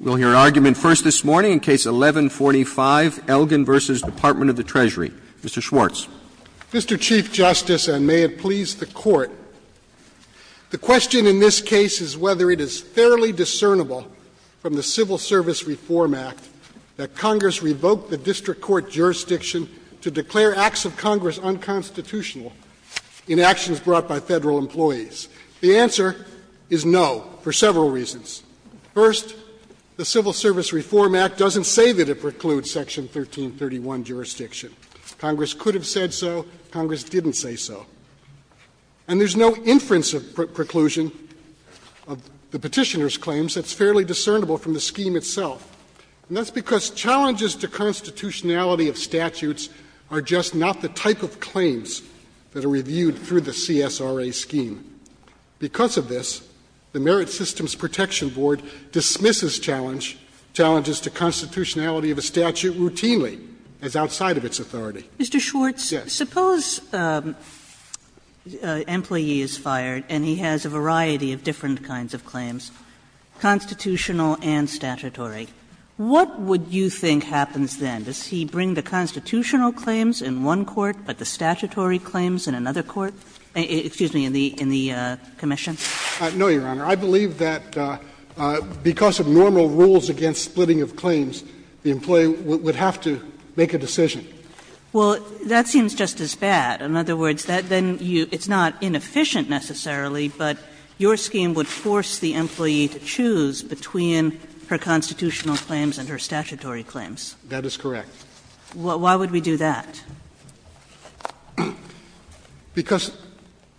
We'll hear argument first this morning in Case 11-45, Elgin v. Department of the Treasury. Mr. Schwartz. Mr. Chief Justice, and may it please the Court, the question in this case is whether it is fairly discernible from the Civil Service Reform Act that Congress revoked the district court jurisdiction to declare acts of Congress unconstitutional in actions brought by Federal employees. The answer is no, for several reasons. First, the Civil Service Reform Act doesn't say that it precludes Section 1331 jurisdiction. Congress could have said so. Congress didn't say so. And there's no inference of preclusion of the Petitioner's claims that's fairly discernible from the scheme itself. And that's because challenges to constitutionality of statutes are just not the type of claims that are reviewed through the CSRA scheme. Because of this, the Merit Systems Protection Board dismisses challenges to constitutionality of a statute routinely as outside of its authority. Yes. Mr. Schwartz, suppose an employee is fired and he has a variety of different kinds of claims, constitutional and statutory, what would you think happens then? Does he bring the constitutional claims in one court, but the statutory claims in another in the commission? No, Your Honor. I believe that because of normal rules against splitting of claims, the employee would have to make a decision. Well, that seems just as bad. In other words, that then you — it's not inefficient necessarily, but your scheme would force the employee to choose between her constitutional claims and her statutory claims. That is correct. Why would we do that? Because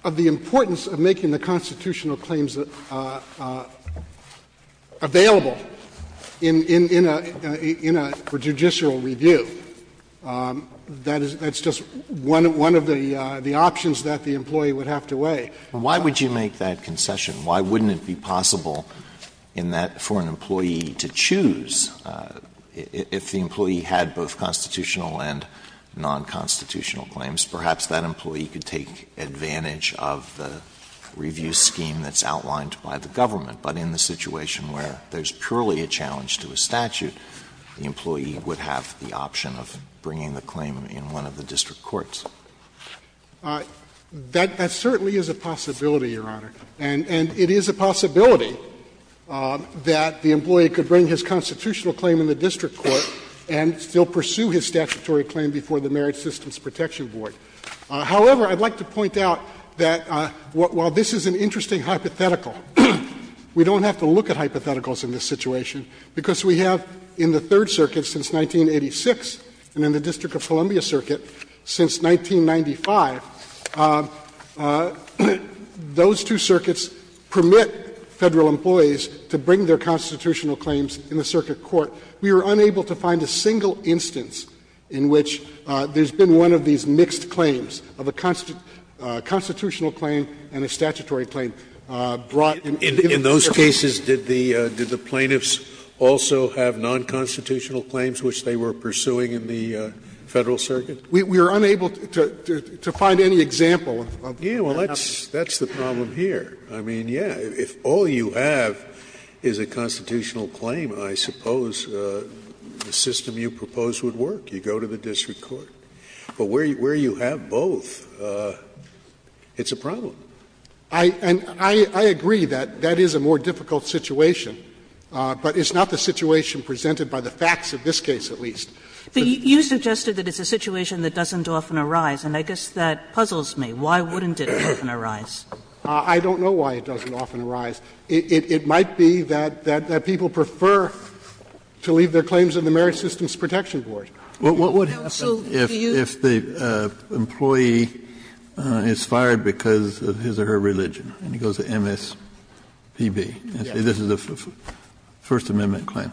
of the importance of making the constitutional claims available in a judicial review. That is — that's just one of the options that the employee would have to weigh. Why would you make that concession? Why wouldn't it be possible in that — for an employee to choose if the employee had both constitutional and nonconstitutional claims, perhaps that employee could take advantage of the review scheme that's outlined by the government, but in the situation where there's purely a challenge to a statute, the employee would have the option of bringing the claim in one of the district courts. That certainly is a possibility, Your Honor. And it is a possibility that the employee could bring his constitutional claim in the district court and still pursue his statutory claim before the Merit Systems Protection Board. However, I'd like to point out that while this is an interesting hypothetical, we don't have to look at hypotheticals in this situation, because we have in the Third Circuit since 1986 and in the District of Columbia Circuit since 1995, those two circuits permit Federal employees to bring their constitutional claims in the circuit court We are unable to find a single instance in which there's been one of these mixed claims of a constitutional claim and a statutory claim brought in the district court. Scalia In those cases, did the plaintiffs also have nonconstitutional claims which they were pursuing in the Federal circuit? We are unable to find any example of that. Scalia Well, that's the problem here. I mean, yes, if all you have is a constitutional claim, I suppose the system you propose would work. You go to the district court. But where you have both, it's a problem. And I agree that that is a more difficult situation, but it's not the situation presented by the facts of this case, at least. Kagan You suggested that it's a situation that doesn't often arise, and I guess that puzzles me. Why wouldn't it often arise? I don't know why it doesn't often arise. It might be that people prefer to leave their claims in the Merit Systems Protection Board. Kennedy What would happen if the employee is fired because of his or her religion, and he goes to MSPB, and says this is a First Amendment claim.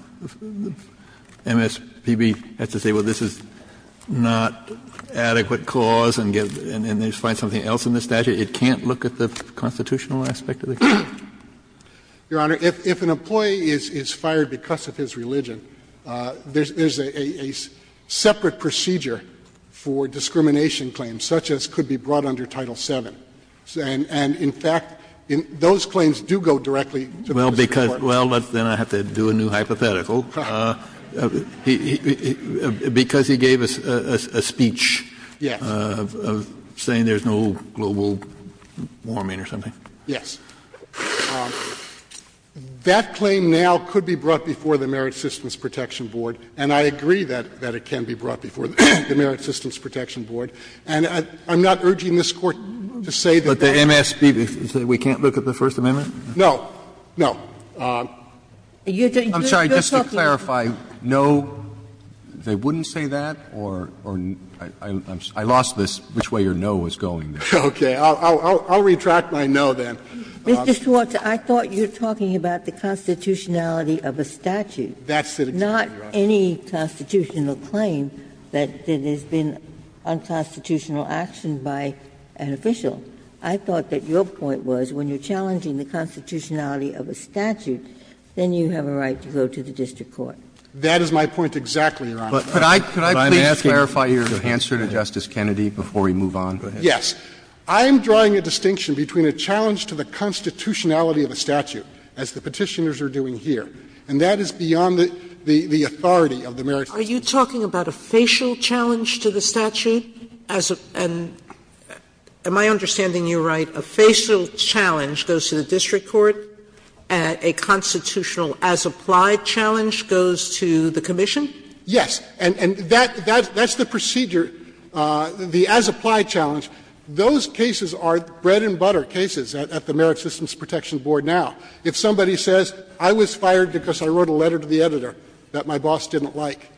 MSPB has to say, well, this is not adequate cause, and they find something else in the statute. It can't look at the constitutional aspect of the claim? Kagan Your Honor, if an employee is fired because of his religion, there's a separate procedure for discrimination claims, such as could be brought under Title VII. And in fact, those claims do go directly to the district court. Kennedy Well, then I have to do a new hypothetical. Warming or something? Kagan Yes. That claim now could be brought before the Merit Systems Protection Board, and I agree that it can be brought before the Merit Systems Protection Board. And I'm not urging this Court to say that the MSPB says we can't look at the First Amendment. Roberts No, no. I'm sorry, just to clarify, no, they wouldn't say that, or I lost this, which way your no was going there. Kagan Okay. I'll retract my no, then. Ginsburg Mr. Schwartz, I thought you're talking about the constitutionality of a statute. Kagan That's it exactly, Your Honor. Ginsburg Not any constitutional claim that has been unconstitutional action by an official. I thought that your point was when you're challenging the constitutionality of a statute, then you have a right to go to the district court. Kagan That is my point exactly, Your Honor. Roberts Could I please clarify your answer to Justice Kennedy before we move on? Go ahead. Schwartz Yes. I'm drawing a distinction between a challenge to the constitutionality of a statute, as the Petitioners are doing here, and that is beyond the authority of the Merit Systems Protection Board. Sotomayor Are you talking about a facial challenge to the statute? As a — and am I understanding you right, a facial challenge goes to the district court, a constitutional as-applied challenge goes to the commission? Schwartz Yes, and that's the procedure, the as-applied challenge, those cases are bread-and-butter cases at the Merit Systems Protection Board now. If somebody says, I was fired because I wrote a letter to the editor that my boss didn't like,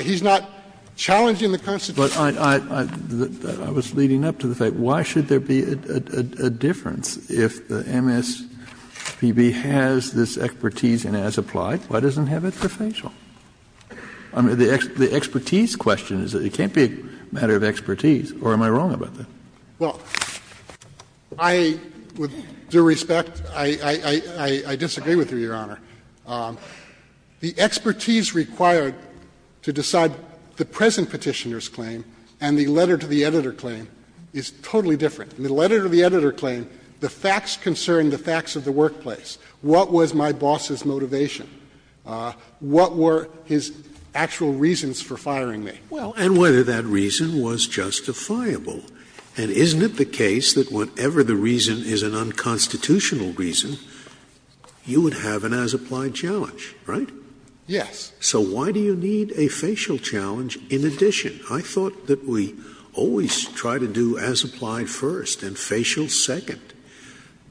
he's not challenging the constitutionality of a statute. Kennedy But I was leading up to the fact, why should there be a difference if the MSPB has this expertise in as-applied, why doesn't it have it for facial? I mean, the expertise question is that it can't be a matter of expertise, or am I wrong Schwartz Well, I, with due respect, I disagree with you, Your Honor. The expertise required to decide the present Petitioner's claim and the letter to the editor claim is totally different. In the letter to the editor claim, the facts concern the facts of the workplace. What was my boss's motivation? What were his actual reasons for firing me? Scalia Well, and whether that reason was justifiable. And isn't it the case that whatever the reason is an unconstitutional reason, you would have an as-applied challenge, right? Schwartz Yes. Scalia So why do you need a facial challenge in addition? I thought that we always try to do as-applied first and facial second.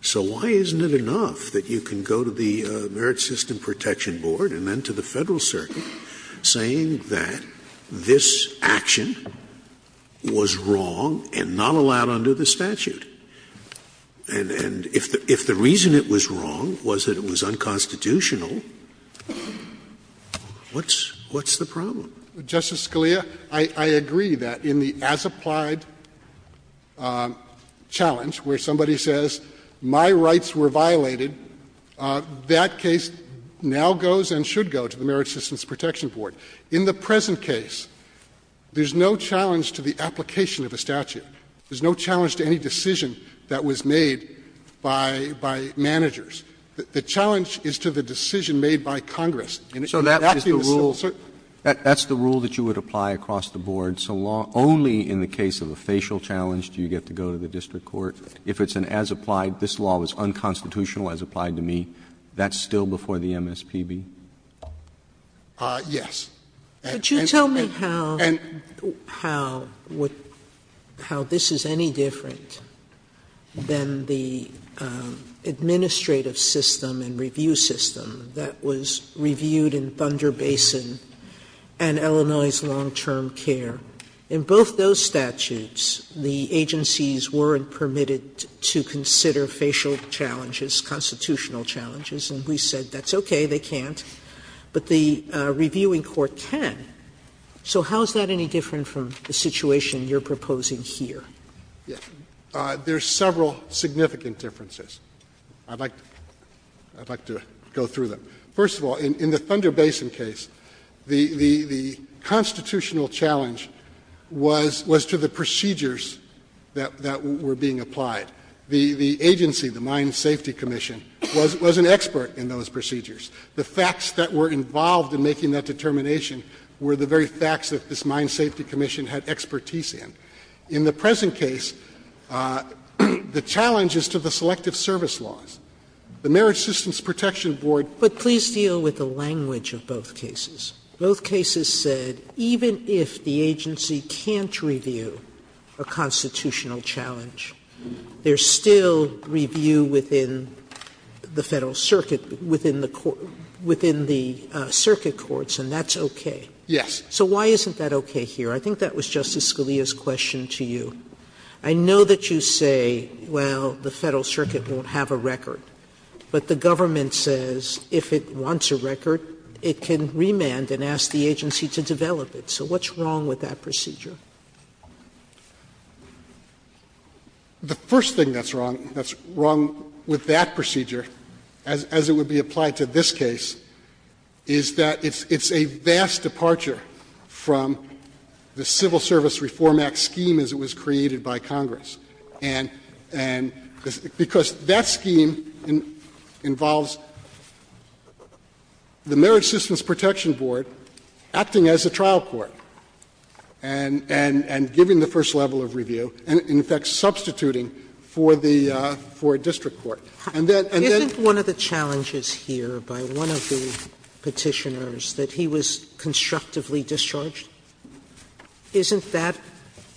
So why isn't it enough that you can go to the Merit System Protection Board and then to the Federal Circuit saying that this action was wrong and not allowed under the statute? And if the reason it was wrong was that it was unconstitutional, what's the problem? Schwartz Justice Scalia, I agree that in the as-applied challenge where somebody says my rights were violated, that case now goes and should go to the Merit Systems Protection Board. In the present case, there's no challenge to the application of a statute. There's no challenge to any decision that was made by managers. The challenge is to the decision made by Congress. And that's the rule. Roberts That's the rule that you would apply across the board. So law only in the case of a facial challenge do you get to go to the district court. If it's an as-applied, this law was unconstitutional as applied to me, that's Yes. And and and and and and Sotomayor Could you tell me how how would how this is any different than the administrative system and review system that was reviewed in Thunder Basin and Illinois' long-term care? In both those statutes, the agencies weren't permitted to consider facial challenges, constitutional challenges, and we said that's okay, they can't, but the reviewing court can. So how is that any different from the situation you're proposing here? There's several significant differences. I'd like I'd like to go through them. First of all, in the Thunder Basin case, the the the constitutional challenge was was to the procedures that that were being applied. The the agency, the Mine Safety Commission, was was an expert in those procedures. The facts that were involved in making that determination were the very facts that this Mine Safety Commission had expertise in. In the present case, the challenge is to the selective service laws. The Marriage Systems Protection Board But please deal with the language of both cases. Both cases said even if the agency can't review a constitutional challenge, there's still review within the Federal Circuit, within the court within the circuit courts, and that's okay. Yes. So why isn't that okay here? I think that was Justice Scalia's question to you. I know that you say, well, the Federal Circuit won't have a record, but the government says if it wants a record, it can remand and ask the agency to develop it. So what's wrong with that procedure? The first thing that's wrong, that's wrong with that procedure, as it would be applied to this case, is that it's a vast departure from the Civil Service Reform Act scheme as it was created by Congress, and because that scheme involves the Marriage Systems Protection Board acting as a trial court and giving the first level of review and, in effect, substituting for the for a district court. And that, and that's Sotomayor, isn't one of the challenges here by one of the Petitioners that he was constructively discharged? Isn't that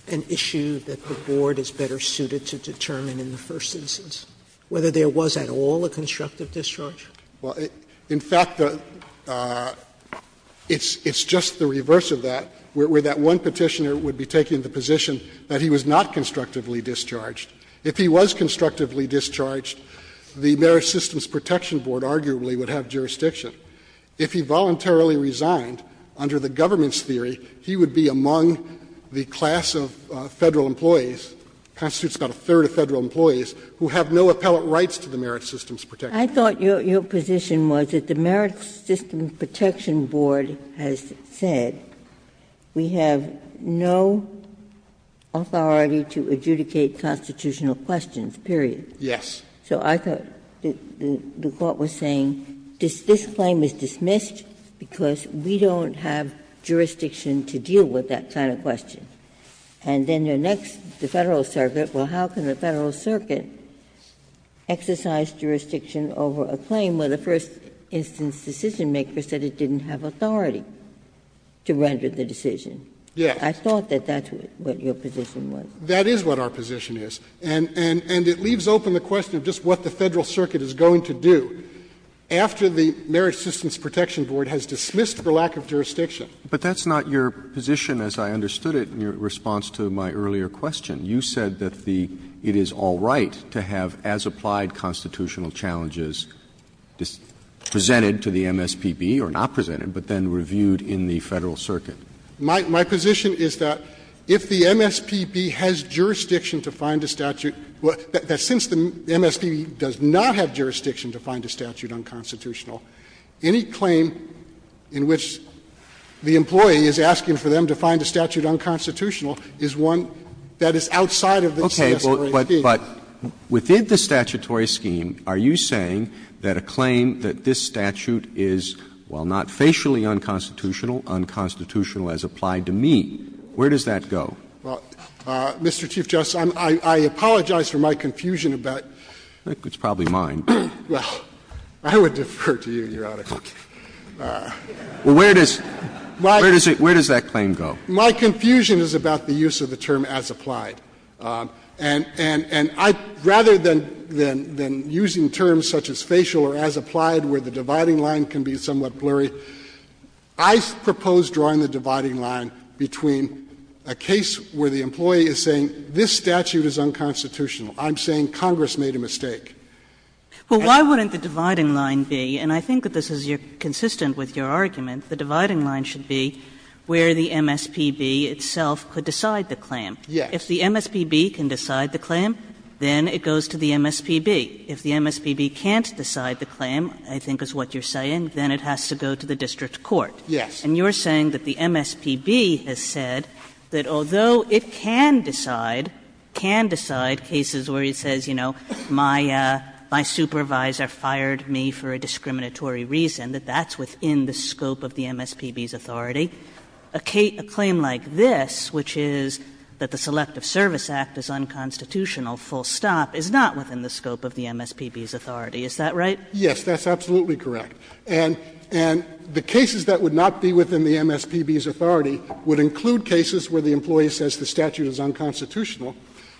an issue that the Board is better suited to determine in the first instance, whether there was at all a constructive discharge? Well, in fact, it's just the reverse of that, where that one Petitioner would be taking the position that he was not constructively discharged. If he was constructively discharged, the Marriage Systems Protection Board arguably would have jurisdiction. If he voluntarily resigned, under the government's theory, he would be among the class of Federal employees, the Constitutes got a third of Federal employees, who have no appellate rights to the Merit Systems Protection Board. I thought your position was that the Merit Systems Protection Board has said, we have no authority to adjudicate constitutional questions, period. Yes. So I thought the Court was saying, this claim is dismissed because we don't have jurisdiction to deal with that kind of question. And then the next, the Federal Circuit, well, how can the Federal Circuit exercise jurisdiction over a claim where the first instance decisionmaker said it didn't have authority to render the decision? Yes. I thought that that's what your position was. That is what our position is. And it leaves open the question of just what the Federal Circuit is going to do after the Marriage Systems Protection Board has dismissed the lack of jurisdiction. But that's not your position as I understood it in your response to my earlier question. You said that the --"it is all right to have as applied constitutional challenges presented to the MSPB or not presented, but then reviewed in the Federal Circuit." My position is that if the MSPB has jurisdiction to find a statute, that since the MSPB does not have jurisdiction to find a statute unconstitutional, any claim in which the employee is asking for them to find a statute unconstitutional is one that is outside of the CSRAP. Roberts. But within the statutory scheme, are you saying that a claim that this statute is, while not facially unconstitutional, unconstitutional as applied to me, where does that go? Well, Mr. Chief Justice, I apologize for my confusion about the use of the term as applied. Well, I would defer to you, Your Honor. Okay. Well, where does that claim go? My confusion is about the use of the term as applied. And I'd rather than using terms such as facial or as applied where the dividing line can be somewhat blurry, I propose drawing the dividing line between a case where the employee is saying this statute is unconstitutional, I'm saying Congress made a mistake. Well, why wouldn't the dividing line be, and I think that this is consistent with your argument, the dividing line should be where the MSPB itself could decide the claim. Yes. If the MSPB can decide the claim, then it goes to the MSPB. If the MSPB can't decide the claim, I think is what you're saying, then it has to go to the district court. Yes. And you're saying that the MSPB has said that although it can decide, can decide cases where it says, you know, my supervisor fired me for a discriminatory reason, that that's within the scope of the MSPB's authority, a claim like this, which is that the Selective Service Act is unconstitutional, full stop, is not within the scope of the MSPB's authority, is that right? Yes, that's absolutely correct. And the cases that would not be within the MSPB's authority would include cases where the employee says the statute is unconstitutional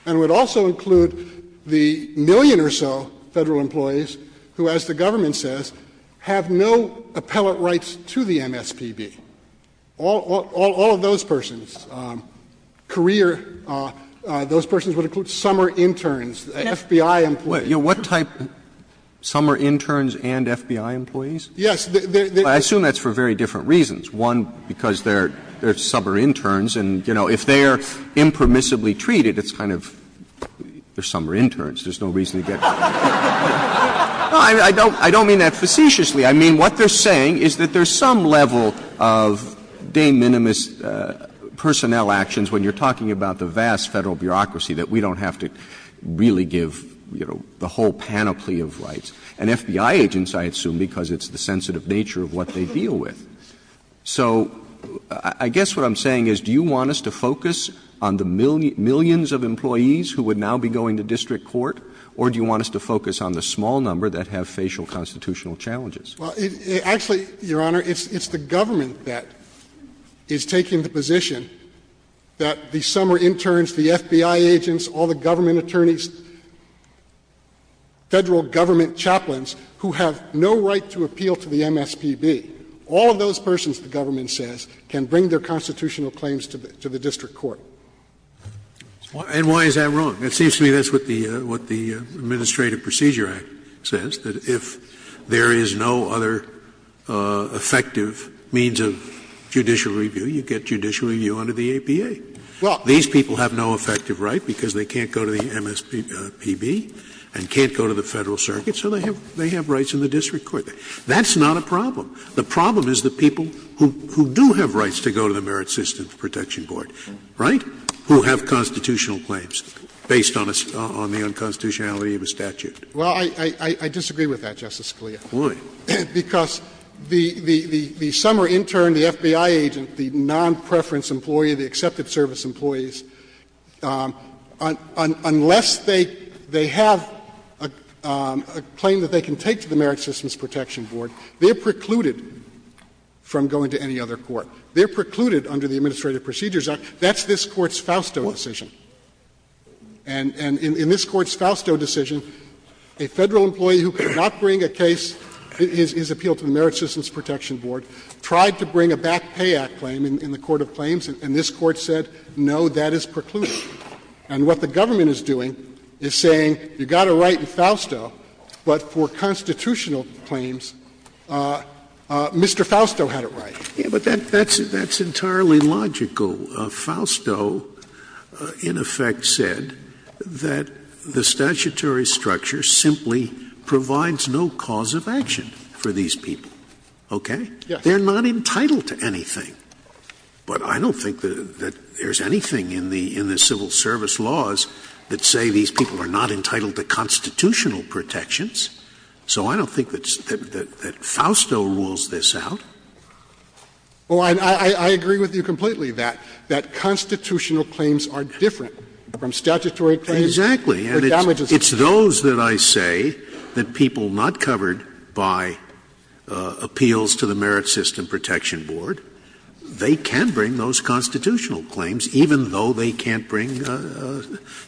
and would also include the million or so Federal employees who, as the government says, have no appellate rights to the MSPB. All of those persons, career, those persons would include summer interns, FBI employees, those types of people. What type of summer interns and FBI employees? Yes. I assume that's for very different reasons. One, because they're summer interns and, you know, if they are impermissibly treated, it's kind of, they're summer interns, there's no reason to get. No, I don't mean that facetiously. I mean, what they're saying is that there's some level of de minimis personnel actions when you're talking about the vast Federal bureaucracy that we don't have to really give, you know, the whole panoply of rights. And FBI agents, I assume, because it's the sensitive nature of what they deal with. So I guess what I'm saying is, do you want us to focus on the millions of employees who would now be going to district court, or do you want us to focus on the small number that have facial constitutional challenges? Well, actually, Your Honor, it's the government that is taking the position that the summer interns, the FBI agents, all the government attorneys, Federal government chaplains who have no right to appeal to the MSPB, all of those persons, the government says, can bring their constitutional claims to the district court. And why is that wrong? It seems to me that's what the Administrative Procedure Act says, that if there is no other effective means of judicial review, you get judicial review under the APA. These people have no effective right because they can't go to the MSPB and can't go to the Federal circuit, so they have rights in the district court. That's not a problem. The problem is the people who do have rights to go to the Merit Systems Protection Board, right, who have constitutional claims based on the unconstitutionality of a statute. Well, I disagree with that, Justice Scalia. Why? Because the summer intern, the FBI agent, the nonpreference employee, the accepted service employees, unless they have a claim that they can take to the Merit Systems Protection Board, they are precluded from going to any other court. They are precluded under the Administrative Procedure Act. That's this Court's Fausto decision. And in this Court's Fausto decision, a Federal employee who could not bring a case, his appeal to the Merit Systems Protection Board, tried to bring a back pay act claim in the court of claims, and this Court said, no, that is precluded. And what the government is doing is saying you've got a right in Fausto, but for constitutional claims, Mr. Fausto had a right. Scalia, but that's entirely logical. Fausto, in effect, said that the statutory structure simply provides no cause of action for these people, okay? They are not entitled to anything. But I don't think that there's anything in the civil service laws that say these people are not entitled to constitutional protections. So I don't think that Fausto rules this out. Well, I agree with you completely that constitutional claims are different from statutory claims. Exactly. And it's those that I say that people not covered by appeals to the Merit System Protection Board, they can bring those constitutional claims, even though they can't bring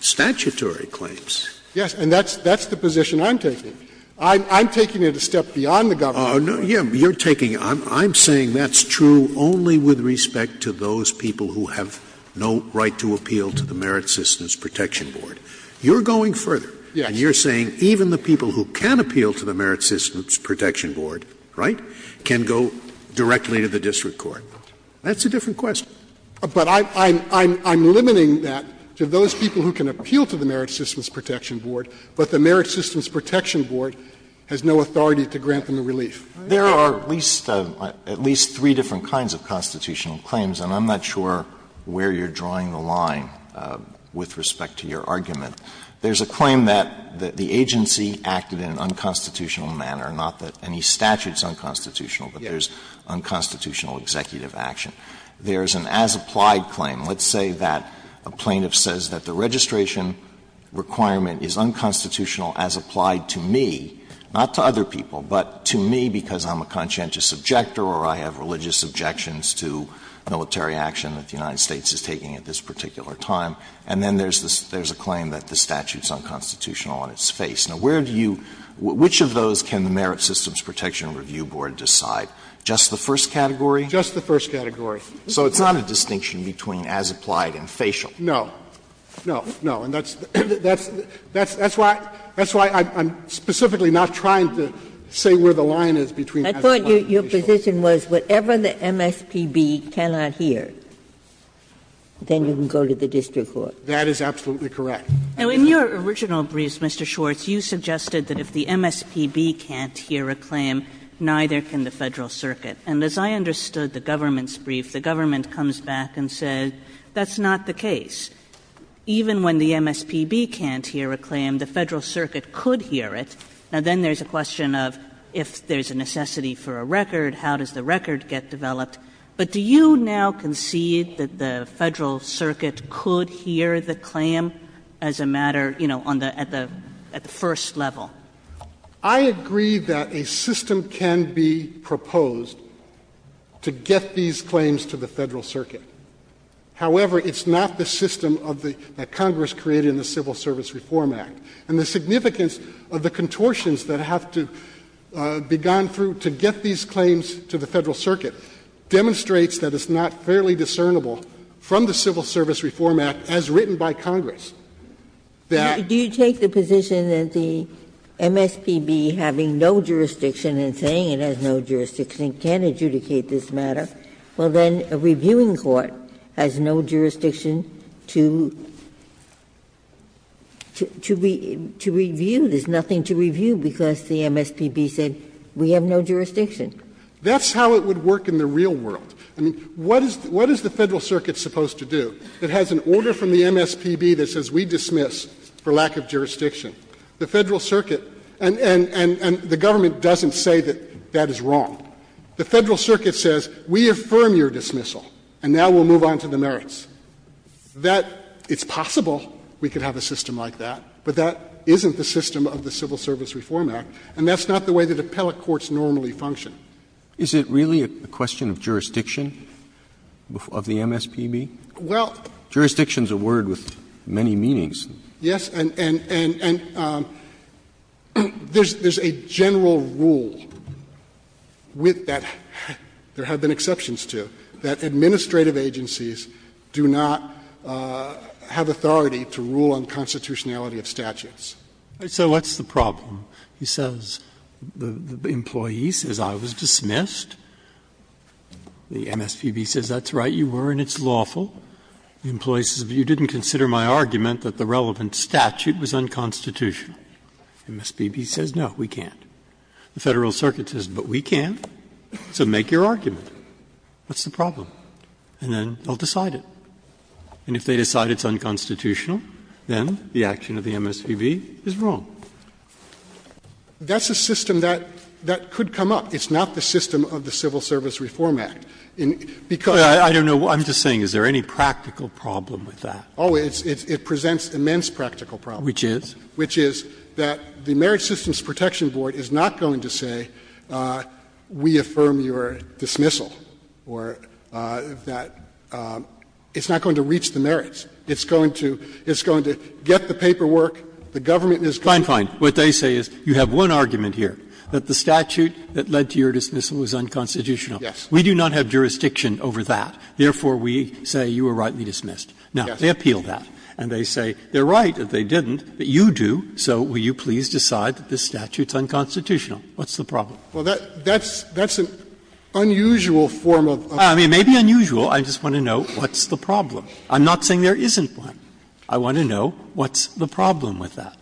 statutory claims. Yes, and that's the position I'm taking. I'm taking it a step beyond the government. Oh, no, yes, you're taking it. I'm saying that's true only with respect to those people who have no right to appeal to the Merit Systems Protection Board. You're going further. Yes. And you're saying even the people who can appeal to the Merit Systems Protection Board, right, can go directly to the district court. That's a different question. But I'm limiting that to those people who can appeal to the Merit Systems Protection Board, but the Merit Systems Protection Board has no authority to grant them a relief. There are at least three different kinds of constitutional claims, and I'm not sure where you're drawing the line with respect to your argument. There's a claim that the agency acted in an unconstitutional manner, not that any statute is unconstitutional, but there's unconstitutional executive action. There's an as-applied claim. Let's say that a plaintiff says that the registration requirement is unconstitutional as applied to me, not to other people, but to me because I'm a conscientious objector or I have religious objections to military action that the United States is taking at this particular time. And then there's a claim that the statute is unconstitutional on its face. Now, where do you – which of those can the Merit Systems Protection Review Board decide? Just the first category? Just the first category. So it's not a distinction between as-applied and facial? No. No, no. and facial. I thought your position was whatever the MSPB cannot hear, then you can go to the district court. That is absolutely correct. Now, in your original briefs, Mr. Schwartz, you suggested that if the MSPB can't hear a claim, neither can the Federal Circuit. And as I understood the government's brief, the government comes back and said that's not the case. Even when the MSPB can't hear a claim, the Federal Circuit could hear it. Now, then there's a question of if there's a necessity for a record, how does the record get developed? But do you now concede that the Federal Circuit could hear the claim as a matter, you know, on the – at the first level? I agree that a system can be proposed to get these claims to the Federal Circuit. However, it's not the system of the – that Congress created in the Civil Service Reform Act. And the significance of the contortions that have to be gone through to get these claims to the Federal Circuit demonstrates that it's not fairly discernible from the Civil Service Reform Act as written by Congress that the MSPB has no jurisdiction and saying it has no jurisdiction and can't adjudicate this matter, well, then a reviewing court has no jurisdiction to adjudicate this matter. To review, there's nothing to review because the MSPB said we have no jurisdiction. That's how it would work in the real world. I mean, what is the Federal Circuit supposed to do that has an order from the MSPB that says we dismiss for lack of jurisdiction? The Federal Circuit and the government doesn't say that that is wrong. The Federal Circuit says we affirm your dismissal and now we'll move on to the merits. That – it's possible we could have a system like that, but that isn't the system of the Civil Service Reform Act, and that's not the way that appellate courts normally function. Roberts' Is it really a question of jurisdiction of the MSPB? Well, jurisdiction is a word with many meanings. Yes, and – and there's a general rule with that there have been exceptions to that administrative agencies do not have authority to rule on constitutionality of statutes. Breyer, so what's the problem? He says the employee says I was dismissed, the MSPB says that's right, you were, and it's lawful. The employee says you didn't consider my argument that the relevant statute was unconstitutional. MSPB says, no, we can't. The Federal Circuit says, but we can, so make your argument. What's the problem? And then they'll decide it. And if they decide it's unconstitutional, then the action of the MSPB is wrong. That's a system that – that could come up. It's not the system of the Civil Service Reform Act. Because – I don't know. I'm just saying, is there any practical problem with that? Oh, it presents immense practical problems. Which is? Which is that the Merit Systems Protection Board is not going to say we affirm your dismissal, or that it's not going to reach the merits. It's going to – it's going to get the paperwork, the government is going to – Fine, fine. What they say is you have one argument here, that the statute that led to your dismissal is unconstitutional. Yes. We do not have jurisdiction over that. Therefore, we say you were rightly dismissed. Now, they appeal that, and they say they're right that they didn't, but you do, so will you please decide that this statute's unconstitutional? What's the problem? Well, that's an unusual form of – I mean, it may be unusual. I just want to know what's the problem. I'm not saying there isn't one. I want to know what's the problem with that.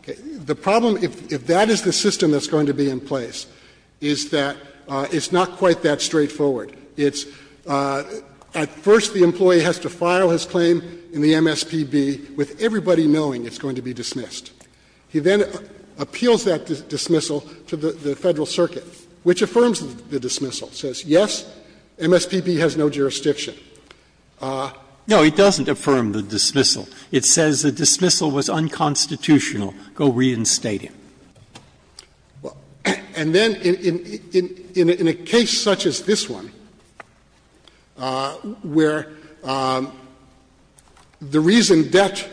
The problem, if that is the system that's going to be in place, is that it's not quite that straightforward. It's at first the employee has to file his claim in the MSPB with everybody knowing it's going to be dismissed. He then appeals that dismissal to the Federal Circuit. Which affirms the dismissal. It says, yes, MSPB has no jurisdiction. No, it doesn't affirm the dismissal. It says the dismissal was unconstitutional. Go reinstate it. And then in a case such as this one, where the reason that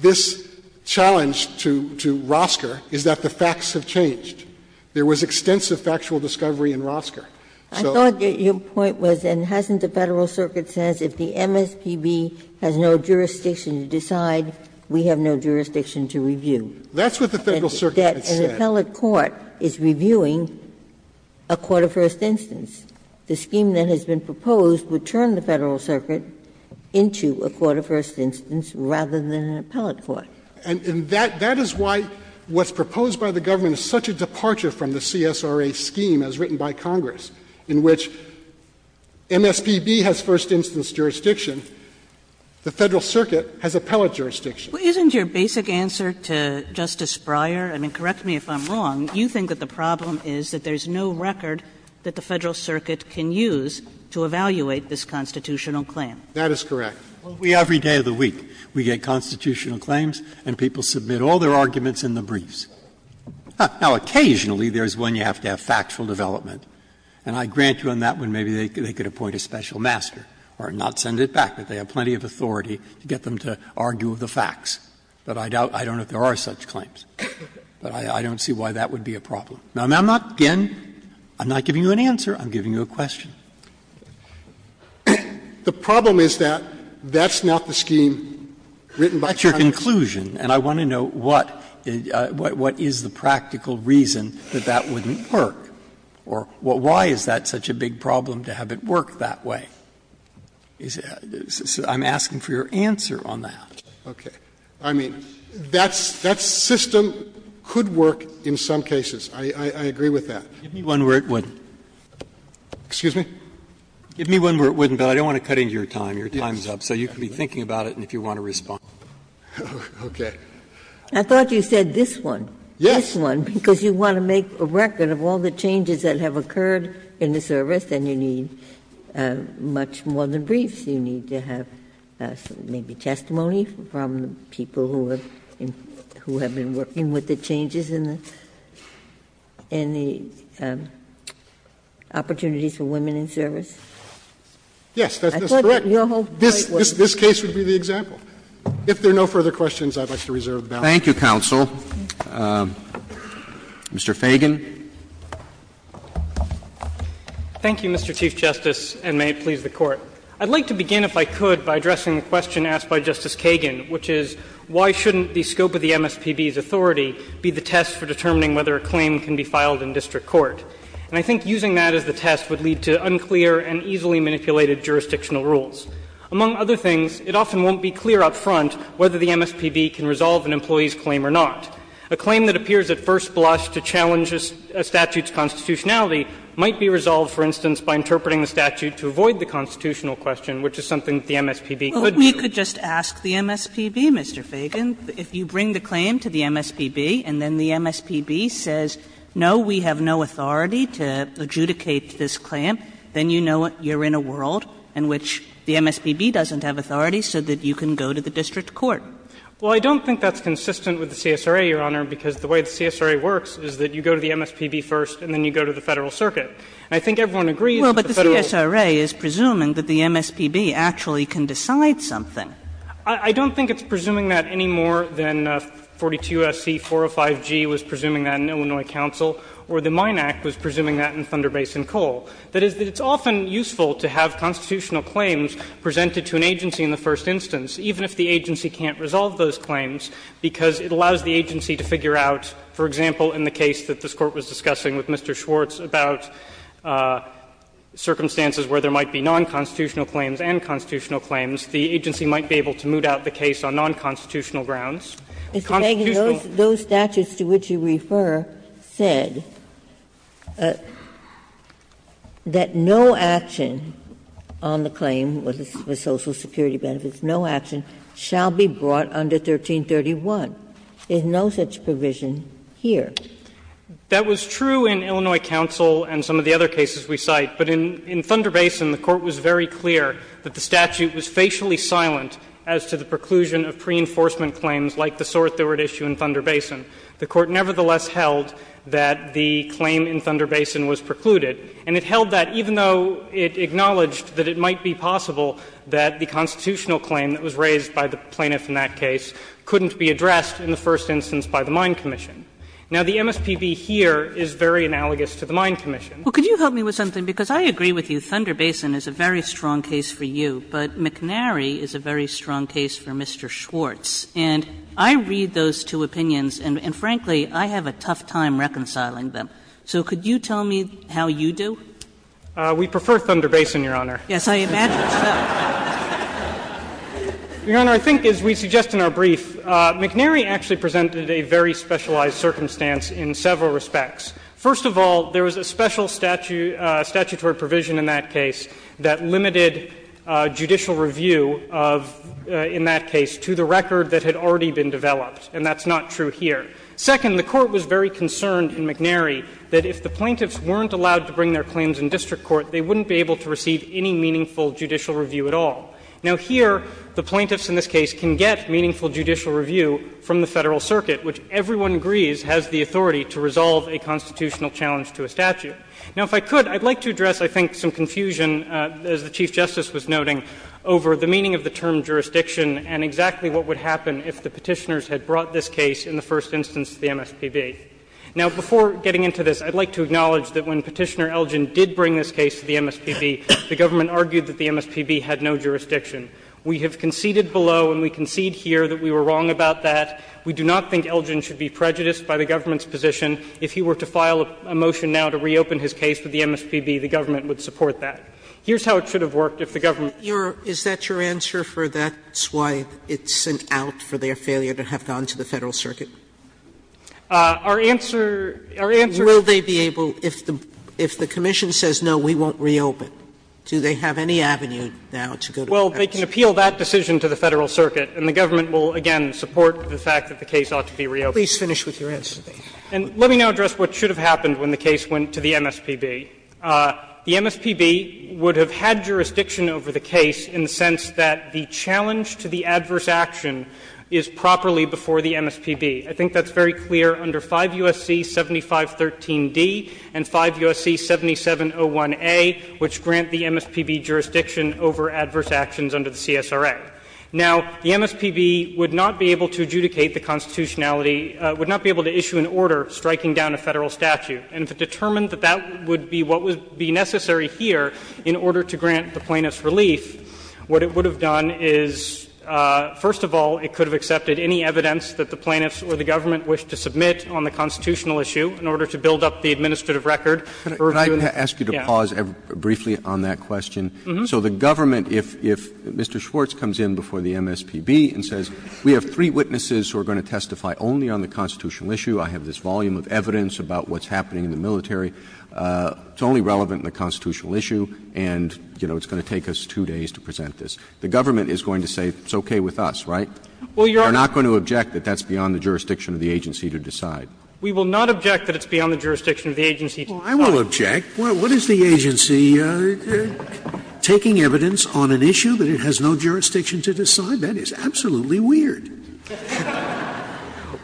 this challenge to Rosker is that the facts have changed, there was extensive factual discovery in Rosker. So the point was, and hasn't the Federal Circuit says, if the MSPB has no jurisdiction to decide, we have no jurisdiction to review? That's what the Federal Circuit has said. An appellate court is reviewing a quarter-first instance. The scheme that has been proposed would turn the Federal Circuit into a quarter-first instance rather than an appellate court. And that is why what's proposed by the government is such a departure from the CSRA scheme as written by Congress, in which MSPB has first instance jurisdiction, the Federal Circuit has appellate jurisdiction. Kagan. Isn't your basic answer to Justice Breyer, I mean, correct me if I'm wrong, you think that the problem is that there's no record that the Federal Circuit can use to evaluate this constitutional claim? That is correct. Well, we, every day of the week, we get constitutional claims and people submit all their arguments in the briefs. Now, occasionally there's one you have to have factual development, and I grant you on that one maybe they could appoint a special master or not send it back, but they have plenty of authority to get them to argue the facts. But I doubt, I don't know if there are such claims, but I don't see why that would be a problem. Now, I'm not, again, I'm not giving you an answer, I'm giving you a question. The problem is that that's not the scheme written by Congress. That's your conclusion, and I want to know what is the practical reason that that wouldn't work, or why is that such a big problem to have it work that way? I'm asking for your answer on that. Okay. I mean, that system could work in some cases. I agree with that. Give me one where it wouldn't. Excuse me? Give me one where it wouldn't, but I don't want to cut into your time. Your time's up. So you can be thinking about it and if you want to respond. Okay. Ginsburg. I thought you said this one. Yes. This one, because you want to make a record of all the changes that have occurred in the service, and you need much more than briefs. You need to have maybe testimony from people who have been working with the changes in the opportunities for women in service. Yes, that's correct. This case would be the example. If there are no further questions, I'd like to reserve the balance. Thank you, counsel. Mr. Fagan. Thank you, Mr. Chief Justice, and may it please the Court. I'd like to begin, if I could, by addressing the question asked by Justice Kagan, which is why shouldn't the scope of the MSPB's authority be the test for determining whether a claim can be filed in district court? And I think using that as the test would lead to unclear and easily manipulated jurisdictional rules. Among other things, it often won't be clear up front whether the MSPB can resolve an employee's claim or not. A claim that appears at first blush to challenge a statute's constitutionality might be resolved, for instance, by interpreting the statute to avoid the constitutional question, which is something the MSPB could do. Kagan, if I could just ask the MSPB, Mr. Fagan, if you bring the claim to the MSPB and then the MSPB says, no, we have no authority to adjudicate this claim, then you know you're in a world in which the MSPB doesn't have authority so that you can go to the district court. Well, I don't think that's consistent with the CSRA, Your Honor, because the way the CSRA works is that you go to the MSPB first and then you go to the Federal Circuit. And I think everyone agrees that the Federal Circuit's position is that the CSRA and the MSPB actually can decide something. I don't think it's presuming that any more than 42SC405G was presuming that in Illinois counsel or the Mine Act was presuming that in Thunder Basin Coal. That is, it's often useful to have constitutional claims presented to an agency in the first instance, even if the agency can't resolve those claims, because it allows the agency to figure out, for example, in the case that this Court was discussing with Mr. Schwartz about circumstances where there might be nonconstitutional claims and constitutional claims, the agency might be able to moot out the case on nonconstitutional grounds. Constitutional. Ginsburg. Those statutes to which you refer said that no action on the claim was for Social Security benefits, no action shall be brought under 1331. There's no such provision here. That was true in Illinois counsel and some of the other cases we cite. But in Thunder Basin, the Court was very clear that the statute was facially silent as to the preclusion of preenforcement claims like the sort that were at issue in Thunder Basin. The Court nevertheless held that the claim in Thunder Basin was precluded, and it held that even though it acknowledged that it might be possible that the constitutional claim that was raised by the plaintiff in that case couldn't be addressed in the first instance by the Mine Commission. Now, the MSPB here is very analogous to the Mine Commission. Kagan. Well, could you help me with something? Because I agree with you. Thunder Basin is a very strong case for you, but McNary is a very strong case for Mr. Schwartz. And I read those two opinions, and frankly, I have a tough time reconciling them. So could you tell me how you do? We prefer Thunder Basin, Your Honor. Yes, I imagine so. Your Honor, I think as we suggest in our brief, McNary actually presented a very specialized circumstance in several respects. First of all, there was a special statutory provision in that case that limited judicial review of the record that had already been developed, and that's not true here. Second, the Court was very concerned in McNary that if the plaintiffs weren't allowed to bring their claims in district court, they wouldn't be able to receive any meaningful judicial review at all. Now, here the plaintiffs in this case can get meaningful judicial review from the Federal Constitutional challenge to a statute. Now, if I could, I'd like to address, I think, some confusion, as the Chief Justice was noting, over the meaning of the term jurisdiction and exactly what would happen if the Petitioners had brought this case in the first instance to the MSPB. Now, before getting into this, I'd like to acknowledge that when Petitioner Elgin did bring this case to the MSPB, the government argued that the MSPB had no jurisdiction. We have conceded below and we concede here that we were wrong about that. We do not think Elgin should be prejudiced by the government's position if he were to file a motion now to reopen his case to the MSPB, the government would support that. Here's how it should have worked if the government had not brought this case in. Sotomayor, is that your answer for that's why it's an out for their failure to have gone to the Federal Circuit? Our answer, our answer is that if the Commission says, no, we won't reopen, do they have any avenue now to go to the Federal Circuit? Well, they can appeal that decision to the Federal Circuit, and the government will, again, support the fact that the case ought to be reopened. Please finish with your answer. And let me now address what should have happened when the case went to the MSPB. The MSPB would have had jurisdiction over the case in the sense that the challenge to the adverse action is properly before the MSPB. I think that's very clear under 5 U.S.C. 7513d and 5 U.S.C. 7701a, which grant the MSPB jurisdiction over adverse actions under the CSRA. Now, the MSPB would not be able to adjudicate the constitutionality of the case, would not be able to issue an order striking down a Federal statute. And to determine that that would be what would be necessary here in order to grant the plaintiff's relief, what it would have done is, first of all, it could have accepted any evidence that the plaintiff's or the government wished to submit on the constitutional issue in order to build up the administrative record. Roberts. Roberts. Can I ask you to pause briefly on that question? So the government, if Mr. Schwartz comes in before the MSPB and says, we have three articles on the constitutional issue, I have this volume of evidence about what's happening in the military, it's only relevant in the constitutional issue, and, you know, it's going to take us two days to present this, the government is going to say it's okay with us, right? We're not going to object that that's beyond the jurisdiction of the agency to decide. We will not object that it's beyond the jurisdiction of the agency to decide. Scalia. Well, I will object. What is the agency taking evidence on an issue that it has no jurisdiction to decide? That is absolutely weird.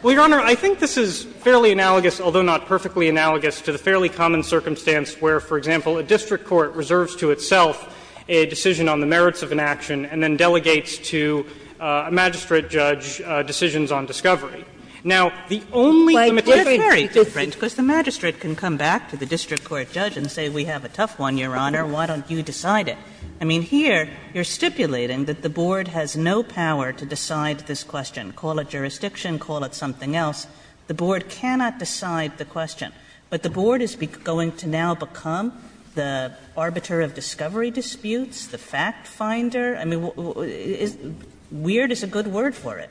Well, Your Honor, I think this is fairly analogous, although not perfectly analogous, to the fairly common circumstance where, for example, a district court reserves to itself a decision on the merits of an action and then delegates to a magistrate judge decisions on discovery. Now, the only limitation is that the magistrate can come back to the district court judge and say, we have a tough one, Your Honor, why don't you decide it? I mean, here you're stipulating that the board has no power to decide this question. Call it jurisdiction, call it something else. The board cannot decide the question. But the board is going to now become the arbiter of discovery disputes, the fact-finder? I mean, weird is a good word for it.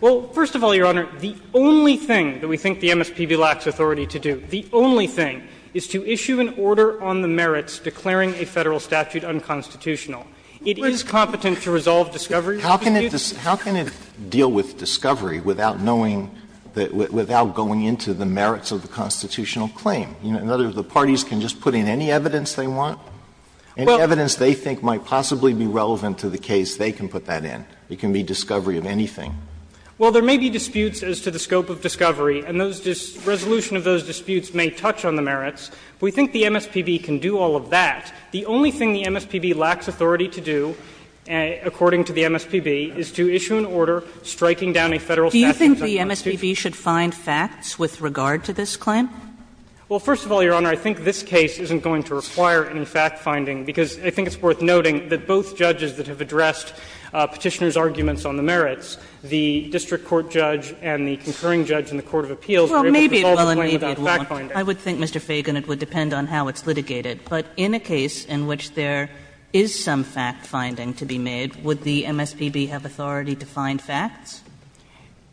Well, first of all, Your Honor, the only thing that we think the MSPB lacks authority to do, the only thing, is to issue an order on the merits declaring a Federal statute unconstitutional. It is competent to resolve discovery disputes. How can it deal with discovery without knowing, without going into the merits of the constitutional claim? In other words, the parties can just put in any evidence they want, any evidence they think might possibly be relevant to the case, they can put that in. It can be discovery of anything. Well, there may be disputes as to the scope of discovery, and those resolution of those disputes may touch on the merits. We think the MSPB can do all of that. The only thing the MSPB lacks authority to do, according to the MSPB, is to issue an order striking down a Federal statute unconstitutional. Do you think the MSPB should find facts with regard to this claim? Well, first of all, Your Honor, I think this case isn't going to require any fact finding, because I think it's worth noting that both judges that have addressed Petitioner's arguments on the merits, the district court judge and the concurring judge in the court of appeals are able to resolve the claim without fact finding. I would think, Mr. Feigin, it would depend on how it's litigated. But in a case in which there is some fact finding to be made, would the MSPB have authority to find facts?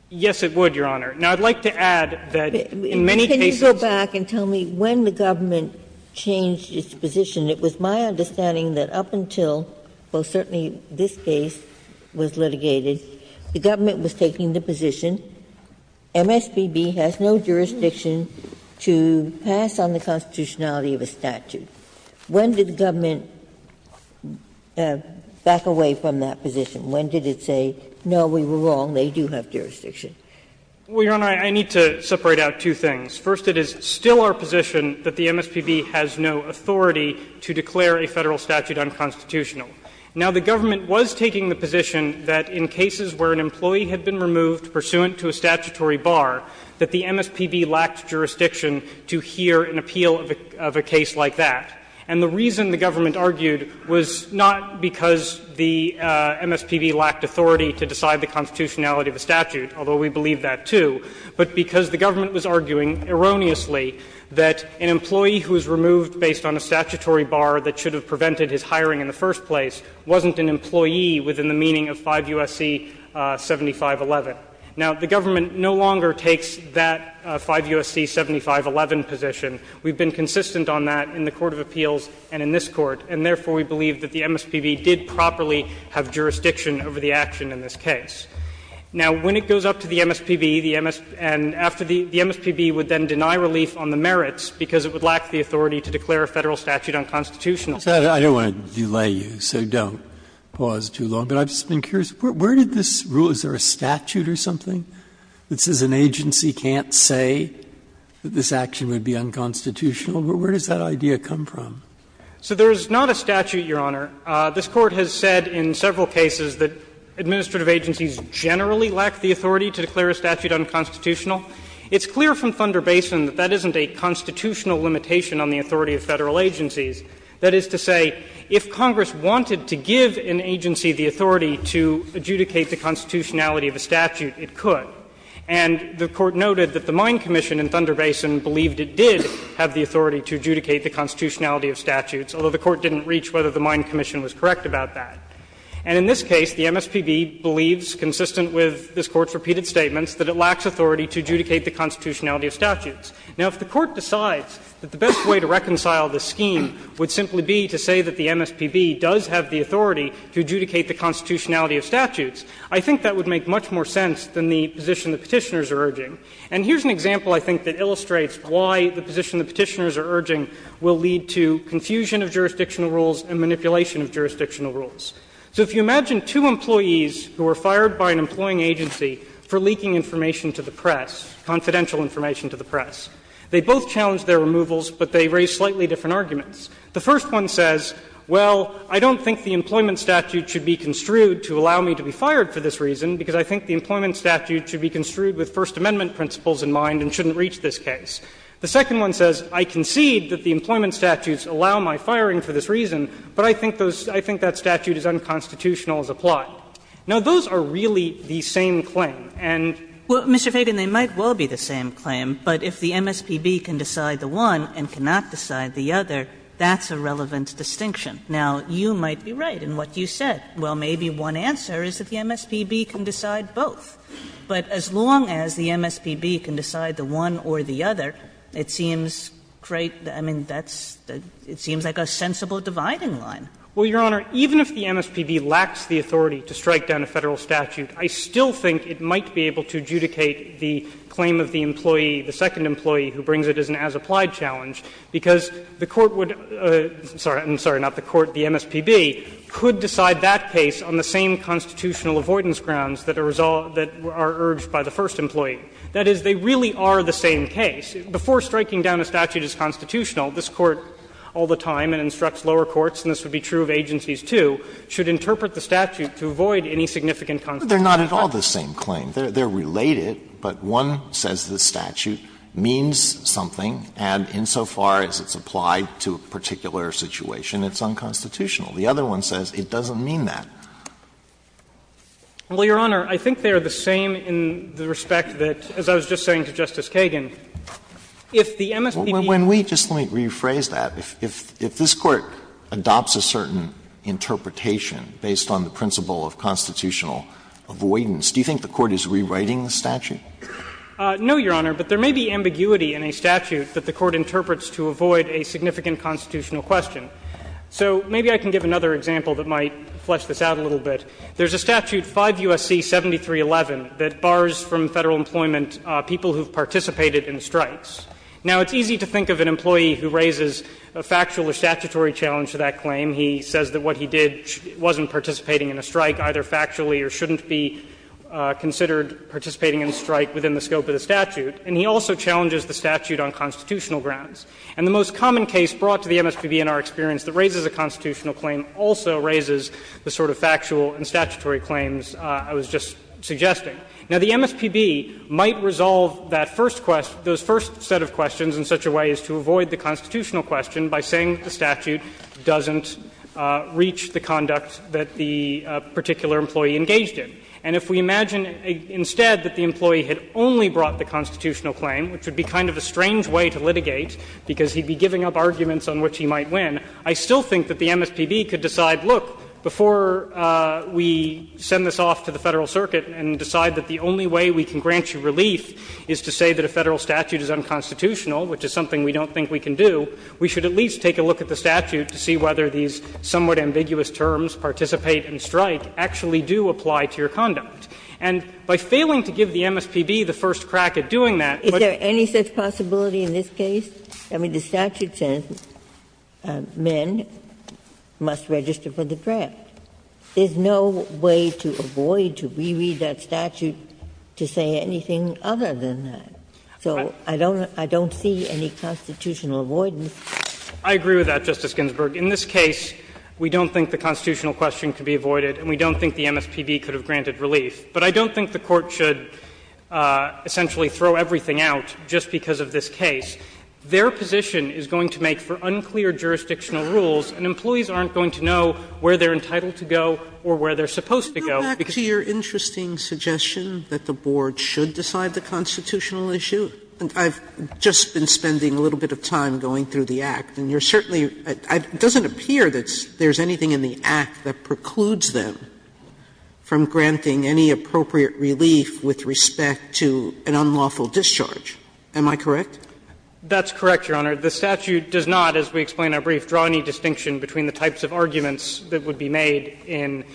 Yes, it would, Your Honor. Now, I'd like to add that in many cases the MSPB has authority to find facts. Can you go back and tell me when the government changed its position? It was my understanding that up until, well, certainly this case was litigated, the government was taking the position MSPB has no jurisdiction to pass on the constitutionality of a statute. When did the government back away from that position? When did it say, no, we were wrong, they do have jurisdiction? Well, Your Honor, I need to separate out two things. First, it is still our position that the MSPB has no authority to declare a Federal statute unconstitutional. Now, the government was taking the position that in cases where an employee had been removed pursuant to a statutory bar, that the MSPB lacked jurisdiction to hear an appeal of a case like that. And the reason the government argued was not because the MSPB lacked authority to decide the constitutionality of a statute, although we believe that, too, but because the government was arguing erroneously that an employee who was removed based on a statutory bar that should have prevented his hiring in the first place wasn't an employee within the meaning of 5 U.S.C. 7511. Now, the government no longer takes that 5 U.S.C. 7511 position. We have been consistent on that in the court of appeals and in this Court, and therefore we believe that the MSPB did properly have jurisdiction over the action in this case. Now, when it goes up to the MSPB, the MSPB would then deny relief on the merits because it would lack the authority to declare a Federal statute unconstitutional. Breyer, I don't want to delay you, so don't pause too long, but I've just been curious. Where did this rule? Is there a statute or something that says an agency can't say that this action would be unconstitutional? Where does that idea come from? So there is not a statute, Your Honor. This Court has said in several cases that administrative agencies generally lack the authority to declare a statute unconstitutional. It's clear from Thunder Basin that that isn't a constitutional limitation on the authority of Federal agencies. That is to say, if Congress wanted to give an agency the authority to adjudicate the constitutionality of a statute, it could. And the Court noted that the Mine Commission in Thunder Basin believed it did have the authority to adjudicate the constitutionality of statutes, although the Court didn't reach whether the Mine Commission was correct about that. And in this case, the MSPB believes, consistent with this Court's repeated statements, that it lacks authority to adjudicate the constitutionality of statutes. Now, if the Court decides that the best way to reconcile this scheme would simply be to say that the MSPB does have the authority to adjudicate the constitutionality of statutes, I think that would make much more sense than the position the Petitioners are urging. And here's an example, I think, that illustrates why the position the Petitioners are urging will lead to confusion of jurisdictional rules and manipulation of jurisdictional rules. So if you imagine two employees who were fired by an employing agency for leaking information to the press, confidential information to the press, they both challenged their removals, but they raised slightly different arguments. The first one says, well, I don't think the employment statute should be construed to allow me to be fired for this reason, because I think the employment statute should be construed with First Amendment principles in mind and shouldn't reach this case. The second one says, I concede that the employment statutes allow my firing for this reason, but I think those – I think that statute is unconstitutional as applied. Now, those are really the same claim, and – Kagan, they might well be the same claim, but if the MSPB can decide the one and cannot decide the other, that's a relevant distinction. Now, you might be right in what you said. Well, maybe one answer is that the MSPB can decide both. But as long as the MSPB can decide the one or the other, it seems great – I mean, that's – it seems like a sensible dividing line. Well, Your Honor, even if the MSPB lacks the authority to strike down a Federal statute, I still think it might be able to adjudicate the claim of the employee, the second employee, who brings it as an as-applied challenge, because the Court would – sorry, I'm sorry, not the Court, the MSPB could decide that case on the same constitutional avoidance grounds that are urged by the first employee. That is, they really are the same case. Before striking down a statute as constitutional, this Court all the time, and instructs lower courts, and this would be true of agencies, too, should interpret the statute to avoid any significant constitutional harm. Alito, they're not at all the same claim. They're related, but one says the statute means something, and insofar as it's applied to a particular situation, it's unconstitutional. The other one says it doesn't mean that. Well, Your Honor, I think they are the same in the respect that, as I was just saying to Justice Kagan, if the MSPB doesn't have the authority to strike down a Federal statute, it's unconstitutional. If the MSPB doesn't have the authority to strike down a Federal statute, it's unconstitutional. No, Your Honor, but there may be ambiguity in a statute that the Court interprets to avoid a significant constitutional question. So maybe I can give another example that might flesh this out a little bit. There's a statute, 5 U.S.C. 7311, that bars from Federal employment people who have participated in strikes. Now, it's easy to think of an employee who raises a factual or statutory challenge to that claim. He says that what he did wasn't participating in a strike, either factually or shouldn't be considered participating in a strike within the scope of the statute, and he also challenges the statute on constitutional grounds. And the most common case brought to the MSPB in our experience that raises a constitutional claim also raises the sort of factual and statutory claims I was just suggesting. Now, the MSPB might resolve that first question, those first set of questions in such a way as to avoid the constitutional question by saying that the statute doesn't reach the conduct that the particular employee engaged in. And if we imagine instead that the employee had only brought the constitutional claim, which would be kind of a strange way to litigate, because he'd be giving up arguments on which he might win, I still think that the MSPB could decide, look, before we send this off to the Federal Circuit and decide that the only way we can grant you relief is to say that a Federal statute is unconstitutional, which is something we don't think we can do, we should at least take a look at the statute to see whether these somewhat ambiguous terms, participate and strike, actually do apply to your conduct. And by failing to give the MSPB the first crack at doing that, which Ginsburg-Ginsburg Is there any such possibility in this case? I mean, the statute says men must register for the draft. There's no way to avoid, to re-read that statute to say anything other than that. So I don't, I don't see any constitutional avoidance. Feigin I agree with that, Justice Ginsburg. In this case, we don't think the constitutional question could be avoided, and we don't think the MSPB could have granted relief. But I don't think the Court should essentially throw everything out just because of this case. Their position is going to make for unclear jurisdictional rules, and employees aren't going to know where they're entitled to go or where they're supposed to go. Sotomayor Go back to your interesting suggestion that the Board should decide the constitutional issue. And I've just been spending a little bit of time going through the Act, and you're certainly, it doesn't appear that there's anything in the Act that precludes them from granting any appropriate relief with respect to an unlawful discharge. Am I correct? Feigin That's correct, Your Honor. The statute does not, as we explained in our brief, draw any distinction between the types of arguments that would be made in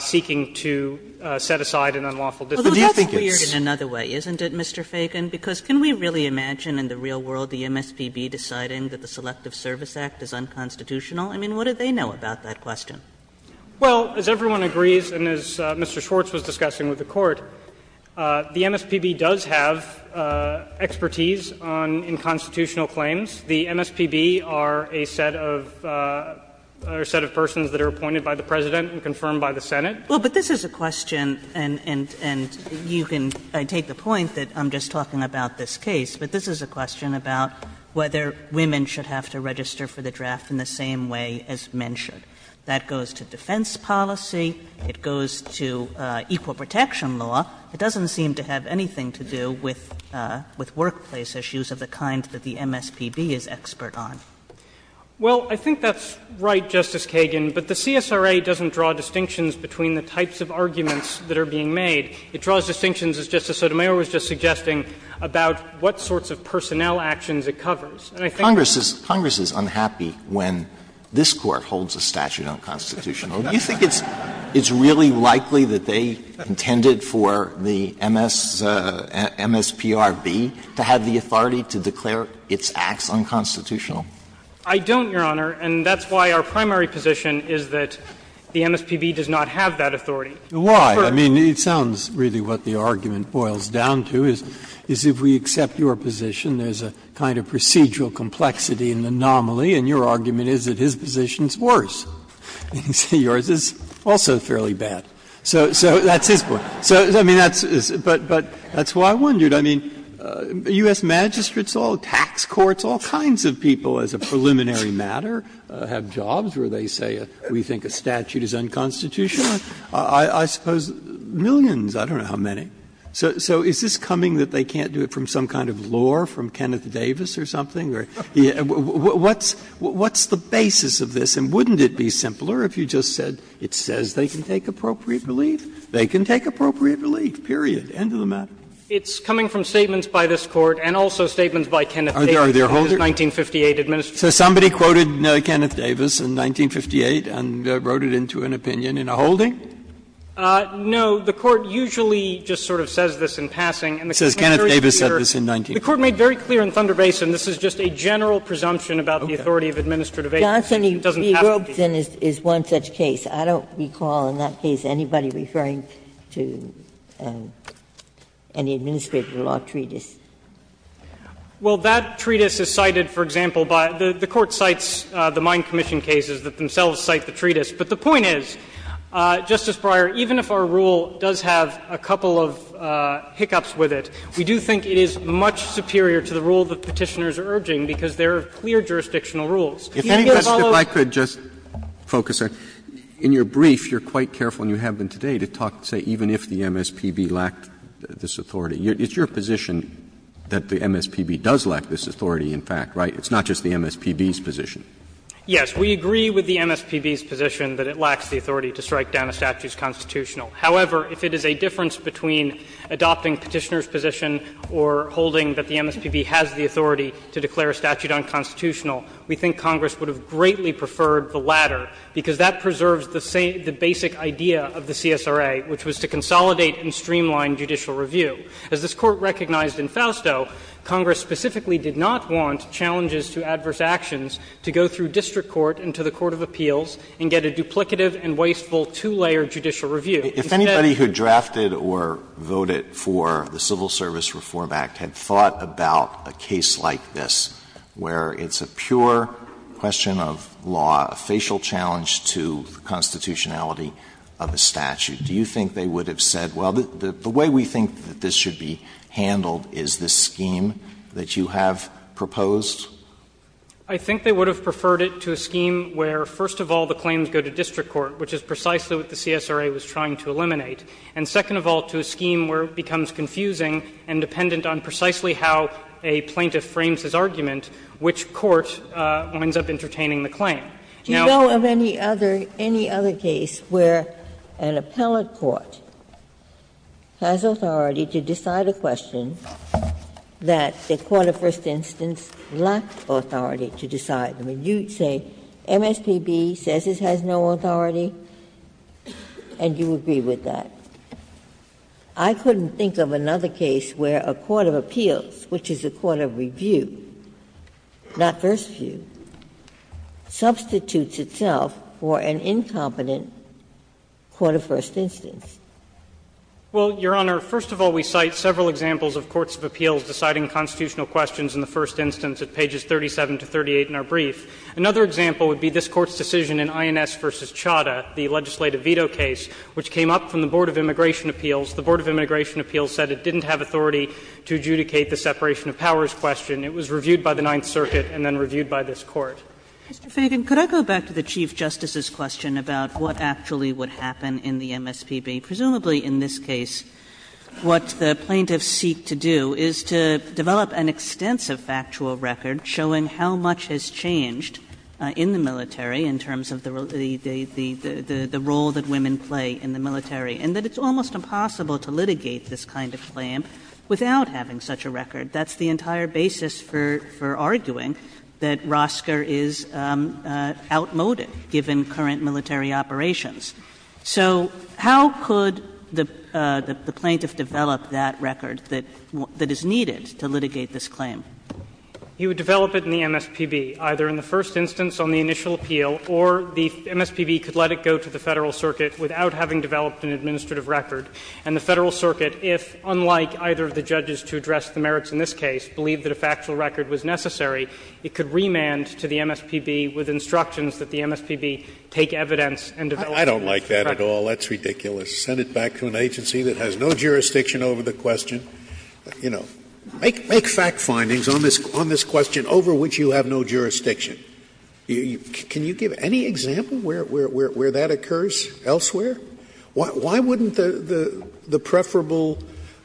seeking to set aside an unlawful discharge. Kagan But that's weird in another way, isn't it, Mr. Feigin? Because can we really imagine in the real world the MSPB deciding that the Selective Service Act is unconstitutional? I mean, what do they know about that question? Feigin Well, as everyone agrees, and as Mr. Schwartz was discussing with the Court, the MSPB does have expertise on unconstitutional claims. The MSPB are a set of persons that are appointed by the President and confirmed by the Senate. Kagan Well, but this is a question, and you can take the point that I'm just talking about this case, but this is a question about whether women should have to register for the draft in the same way as men should. That goes to defense policy, it goes to equal protection law. It doesn't seem to have anything to do with workplace issues of the kind that the MSPB is expert on. Feigin Well, I think that's right, Justice Kagan. But the CSRA doesn't draw distinctions between the types of arguments that are being made. It draws distinctions, as Justice Sotomayor was just suggesting, about what sorts of personnel actions it covers. Alito And I think Congress is unhappy when this Court holds a statute unconstitutional. Do you think it's really likely that they intended for the MSPRB to have the authority to declare its acts unconstitutional? Feigin I don't, Your Honor, and that's why our primary position is that the MSPB does not have that authority. Breyer Why? I mean, it sounds really what the argument boils down to, is if we accept your position, there's a kind of procedural complexity and anomaly, and your argument is that his position is worse. And yours is also fairly bad. So that's his point. So, I mean, that's why I wondered. I mean, U.S. magistrates, all tax courts, all kinds of people as a preliminary matter have jobs where they say, we think a statute is unconstitutional. I suppose millions, I don't know how many. So is this coming that they can't do it from some kind of lore from Kenneth Davis or something? What's the basis of this? And wouldn't it be simpler if you just said it says they can take appropriate relief? They can take appropriate relief, period, end of the matter. Feigin It's coming from statements by this Court and also statements by Kenneth Davis in his 1958 administration. No, the Court usually just sort of says this in passing. And the Court made very clear in Thunder Basin, this is just a general presumption about the authority of administrative agency. It doesn't have to be. Ginsburg He wrote that it's one such case. I don't recall in that case anybody referring to any administrative law treatise. Feigin Well, that treatise is cited, for example, by the Court cites the Mine Commission cases that themselves cite the treatise. But the point is, Justice Breyer, even if our rule does have a couple of hiccups with it, we do think it is much superior to the rule the Petitioners are urging, because there are clear jurisdictional rules. Roberts In your brief, you're quite careful, and you have been today, to talk, say, even if the MSPB lacked this authority. It's your position that the MSPB does lack this authority, in fact, right? It's not just the MSPB's position. Feigin Yes. We agree with the MSPB's position that it lacks the authority to strike down a statute's constitutional. However, if it is a difference between adopting Petitioner's position or holding that the MSPB has the authority to declare a statute unconstitutional, we think Congress would have greatly preferred the latter, because that preserves the basic idea of the CSRA, which was to consolidate and streamline judicial review. As this Court recognized in Fausto, Congress specifically did not want challenges to adverse actions to go through district court and to the court of appeals and get a duplicative and wasteful two-layer judicial review. Alito If anybody who drafted or voted for the Civil Service Reform Act had thought about a case like this, where it's a pure question of law, a facial challenge to the constitutionality of a statute, do you think they would have said, well, the way we think that this should be handled is this scheme that you have proposed? Feigin I think they would have preferred it to a scheme where, first of all, the claims go to district court, which is precisely what the CSRA was trying to eliminate, and second of all, to a scheme where it becomes confusing and dependent on precisely how a plaintiff frames his argument, which court winds up entertaining the claim. Now the other case where an appellate court has a plaintiff who is a plaintiff has authority to decide a question that the court of first instance lacked authority to decide. You say MSPB says it has no authority, and you agree with that. I couldn't think of another case where a court of appeals, which is a court of review, not first view, substitutes itself for an incompetent court of first instance. Feigin Well, Your Honor, first of all, we cite several examples of courts of appeals deciding constitutional questions in the first instance at pages 37 to 38 in our brief. Another example would be this Court's decision in INS v. Chadha, the legislative veto case, which came up from the Board of Immigration Appeals. The Board of Immigration Appeals said it didn't have authority to adjudicate the separation of powers question. It was reviewed by the Ninth Circuit and then reviewed by this Court. Kagan Mr. Feigin, could I go back to the Chief Justice's question about what actually would happen in the MSPB? Presumably in this case, what the plaintiffs seek to do is to develop an extensive factual record showing how much has changed in the military in terms of the role that women play in the military, and that it's almost impossible to litigate this kind of claim without having such a record. That's the entire basis for arguing that Rosker is outmoded, given current military operations. So how could the plaintiff develop that record that is needed to litigate this claim? Feigin You would develop it in the MSPB, either in the first instance on the initial appeal, or the MSPB could let it go to the Federal Circuit without having developed an administrative record, and the Federal Circuit, if unlike either of the judges to address the merits in this case, believed that a factual record was necessary, it could remand to the MSPB with instructions that the MSPB take evidence and develop Scalia I don't like that at all. That's ridiculous. Send it back to an agency that has no jurisdiction over the question, you know. Make fact findings on this question over which you have no jurisdiction. Can you give any example where that occurs elsewhere? Why wouldn't the preferable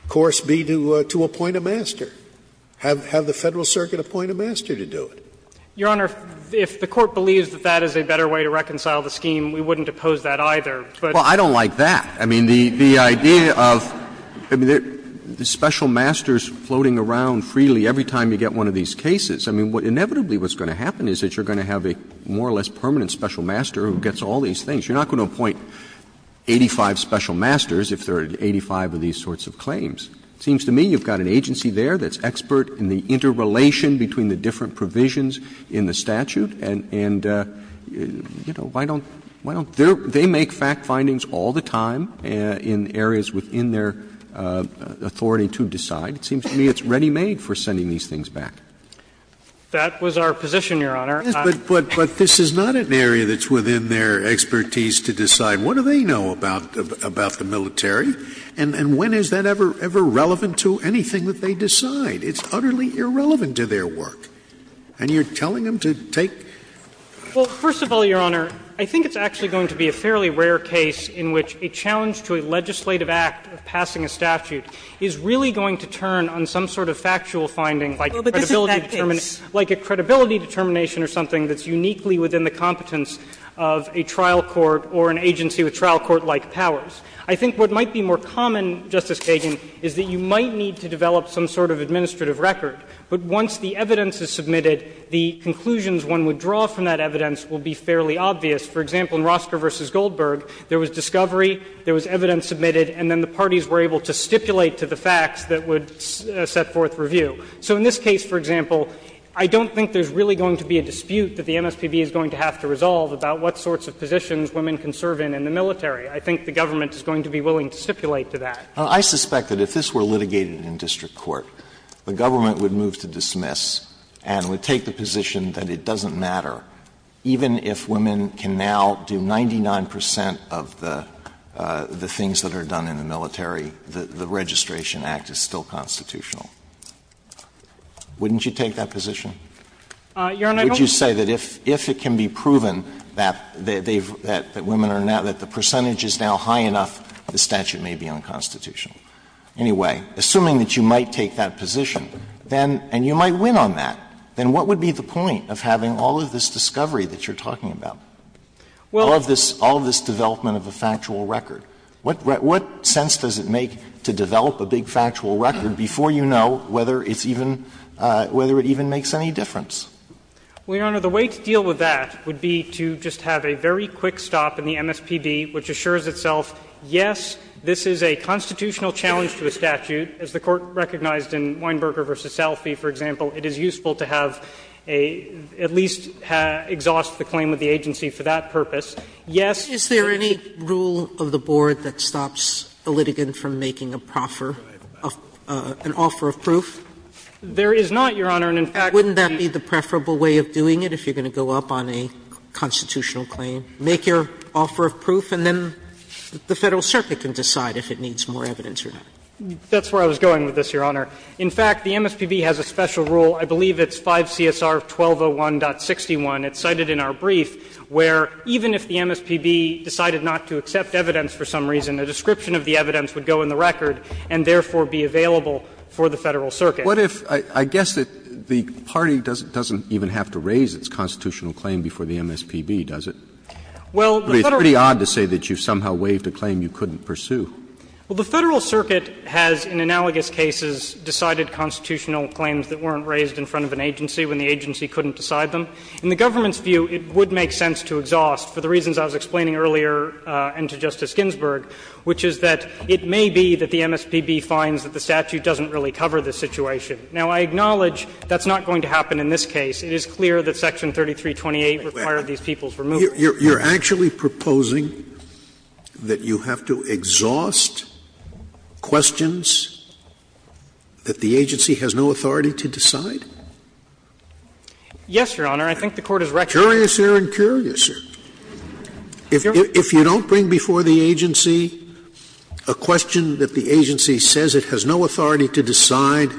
course be to appoint a master, have the Federal Circuit appoint a master to do it? Feigin Your Honor, if the Court believes that that is a better way to reconcile the scheme, we wouldn't oppose that either. But Roberts Well, I don't like that. I mean, the idea of the special masters floating around freely every time you get one of these cases, I mean, inevitably what's going to happen is that you're going to have a more or less permanent special master who gets all these things. You're not going to appoint 85 special masters if there are 85 of these sorts of claims. It seems to me you've got an agency there that's expert in the interrelation between the different provisions in the statute and, you know, why don't, why don't they make fact findings all the time in areas within their authority to decide. It seems to me it's ready-made for sending these things back. Feigin That was our position, Your Honor. Scalia But this is not an area that's within their expertise to decide what do they know about the military and when is that ever relevant to anything that they decide. It's utterly irrelevant to their work. And you're telling them to take — Feigin Well, first of all, Your Honor, I think it's actually going to be a fairly rare case in which a challenge to a legislative act of passing a statute is really going to turn on some sort of factual finding like credibility determination Sotomayor Well, but this is that case. Feigin — like a credibility determination or something that's uniquely within the competence of a trial court or an agency with trial court-like powers. I think what might be more common, Justice Feigin, is that you might need to develop some sort of administrative record. But once the evidence is submitted, the conclusions one would draw from that evidence will be fairly obvious. For example, in Rosker v. Goldberg, there was discovery, there was evidence submitted, and then the parties were able to stipulate to the facts that would set forth review. So in this case, for example, I don't think there's really going to be a dispute that the MSPB is going to have to resolve about what sorts of positions women can serve in in the military. I think the government is going to be willing to stipulate to that. Alito I suspect that if this were litigated in district court, the government would move to dismiss and would take the position that it doesn't matter, even if women can now do 99 percent of the things that are done in the military, the Registration Act is still constitutional. Wouldn't you take that position? Feigin Your Honor, I don't think that's the case. Alito Would you say that if it can be proven that women are now — that the percentage is now high enough, the statute may be unconstitutional? Anyway, assuming that you might take that position, then — and you might win on that — then what would be the point of having all of this discovery that you're talking about, all of this development of a factual record? What sense does it make to develop a big factual record before you know whether it's even — whether it even makes any difference? Feigin Your Honor, the way to deal with that would be to just have a very quick stop in the MSPD, which assures itself, yes, this is a constitutional challenge to a statute. As the Court recognized in Weinberger v. Salfie, for example, it is useful to have a — at least exhaust the claim of the agency for that purpose. Yes, it is useful to have a constitutional challenge to a statute. Sotomayor Is there any rule of the Board that stops a litigant from making a proffer — an offer of proof? Feigin There is not, Your Honor, and, in fact, we — Sotomayor Wouldn't that be the preferable way of doing it, if you're going to go up on a constitutional claim? You make your offer of proof, and then the Federal Circuit can decide if it needs more evidence or not. Feigin That's where I was going with this, Your Honor. In fact, the MSPB has a special rule, I believe it's 5 CSR 1201.61. It's cited in our brief, where even if the MSPB decided not to accept evidence for some reason, a description of the evidence would go in the record and therefore be available for the Federal Circuit. Roberts What if — I guess that the party doesn't even have to raise its constitutional claim before the MSPB, does it? Feigin Well, the Federal — Roberts But it's pretty odd to say that you somehow waived a claim you couldn't pursue. Feigin Well, the Federal Circuit has, in analogous cases, decided constitutional claims that weren't raised in front of an agency when the agency couldn't decide them. In the government's view, it would make sense to exhaust, for the reasons I was explaining earlier and to Justice Ginsburg, which is that it may be that the MSPB finds that the statute doesn't really cover this situation. Now, I acknowledge that's not going to happen in this case. It is clear that Section 3328 required these people's removal. Scalia You're actually proposing that you have to exhaust questions that the agency has no authority to decide? Feigin Yes, Your Honor. I think the Court has recognized that. Scalia Curiouser and curiouser. If you don't bring before the agency a question that the agency says it has no authority to decide,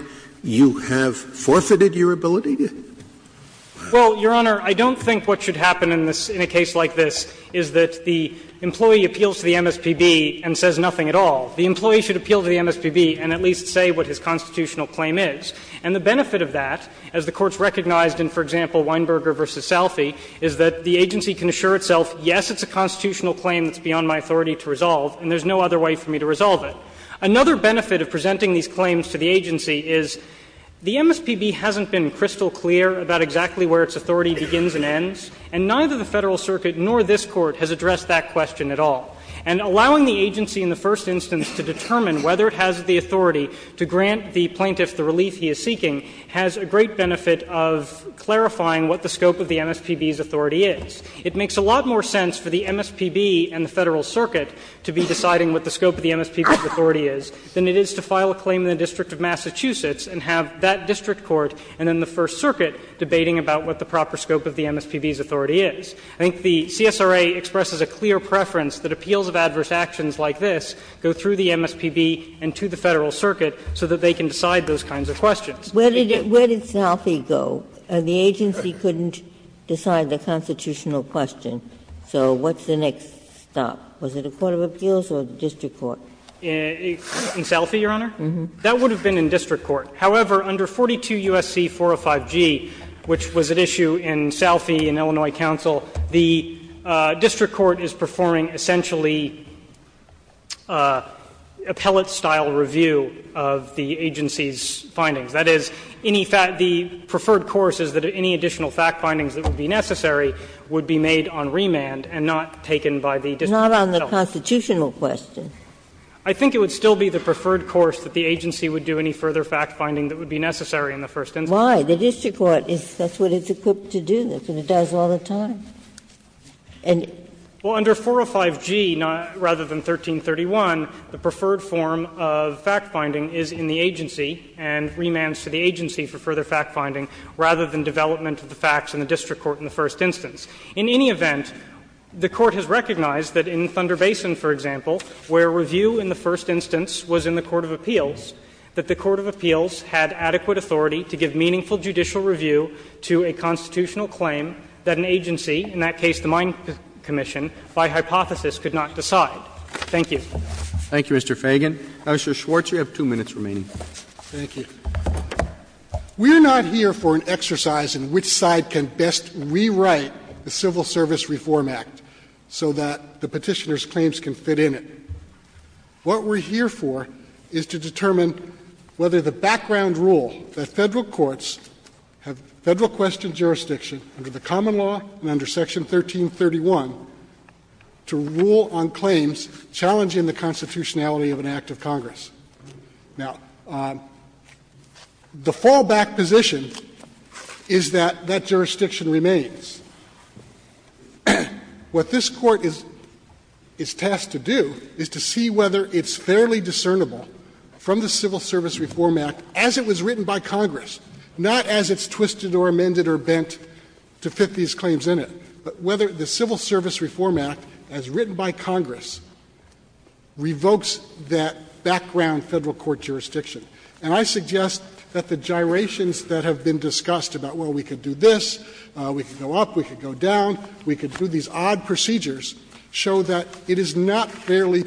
you have forfeited your ability to? Feigin Well, Your Honor, I don't think what should happen in a case like this is that the employee appeals to the MSPB and says nothing at all. The employee should appeal to the MSPB and at least say what his constitutional claim is. And the benefit of that, as the Court's recognized in, for example, Weinberger v. Salphy, is that the agency can assure itself, yes, it's a constitutional claim that's beyond my authority to resolve, and there's no other way for me to resolve it. Another benefit of presenting these claims to the agency is the MSPB hasn't been crystal clear about exactly where its authority begins and ends, and neither the Federal Circuit nor this Court has addressed that question at all. And allowing the agency in the first instance to determine whether it has the authority to grant the plaintiff the relief he is seeking has a great benefit of clarifying what the scope of the MSPB's authority is. It makes a lot more sense for the MSPB and the Federal Circuit to be deciding what the scope of the MSPB's authority is than it is to file a claim in the District of Massachusetts and have that district court and then the First Circuit debating about what the proper scope of the MSPB's authority is. I think the CSRA expresses a clear preference that appeals of adverse actions like this go through the MSPB and to the Federal Circuit so that they can decide those kinds of questions. Ginsburg. Where did Salphy go? The agency couldn't decide the constitutional question. So what's the next stop? Was it a court of appeals or a district court? Feigin. Salphy, Your Honor? That would have been in district court. However, under 42 U.S.C. 405G, which was at issue in Salphy in Illinois Council, the district court is performing essentially appellate-style review of the agency's findings. That is, any fact the preferred course is that any additional fact findings that would be necessary would be made on remand and not taken by the district court. Not on the constitutional question. I think it would still be the preferred course that the agency would do any further fact finding that would be necessary in the first instance. Why? The district court is that's what it's equipped to do, and it does all the time. And under 405G, rather than 1331, the preferred form of fact finding is in the agency and remands to the agency for further fact finding rather than development of the facts in the district court in the first instance. In any event, the Court has recognized that in Thunder Basin, for example, where review in the first instance was in the court of appeals, that the court of appeals had adequate authority to give meaningful judicial review to a constitutional claim that an agency, in that case the Mine Commission, by hypothesis could not decide. Thank you. Roberts. Thank you, Mr. Fagan. Mr. Schwartz, you have two minutes remaining. Thank you. We are not here for an exercise in which side can best rewrite the Civil Service Reform Act so that the petitioner's claims can fit in it. What we're here for is to determine whether the background rule that federal courts have federal question jurisdiction under the common law and under section 1331 to rule on claims challenging the constitutionality of an act of Congress. Now, the fallback position is that that jurisdiction remains. What this court is tasked to do is to see whether it's fairly discernible from the Civil Service Reform Act as it was written by Congress, not as it's twisted or amended or bent to fit these claims in it, but whether the Civil Service Reform Act, as written by Congress, revokes that background federal court jurisdiction. And I suggest that the gyrations that have been discussed about, well, we can do this, we can go up, we can go down, we can do these odd procedures, show that it is not fairly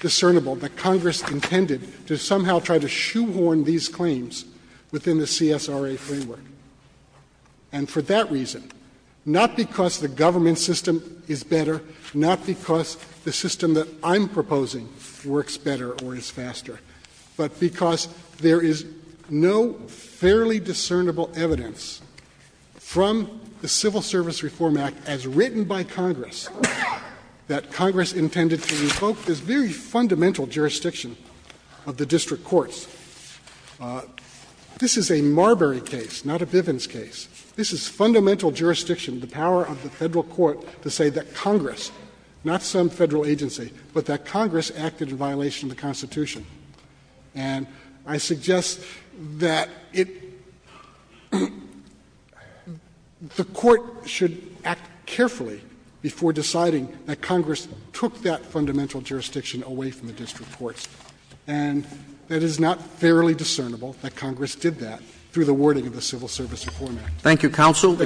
discernible that Congress intended to somehow try to shoehorn these claims within the CSRA framework, and for that reason, not because the government system is better, not because the system that I'm proposing works better or is faster, but because there is no fairly discernible evidence from the Civil Service Reform Act as written by Congress that Congress intended to revoke this very fundamental jurisdiction of the district courts. This is a Marbury case, not a Bivens case. This is fundamental jurisdiction, the power of the federal court to say that Congress, not some federal agency, but that Congress acted in violation of the Constitution. And I suggest that it — the Court should act carefully before deciding that Congress took that fundamental jurisdiction away from the district courts, and that it is not fairly discernible that Congress did that through the wording of the Civil Service Reform Act. Thank you, counsel.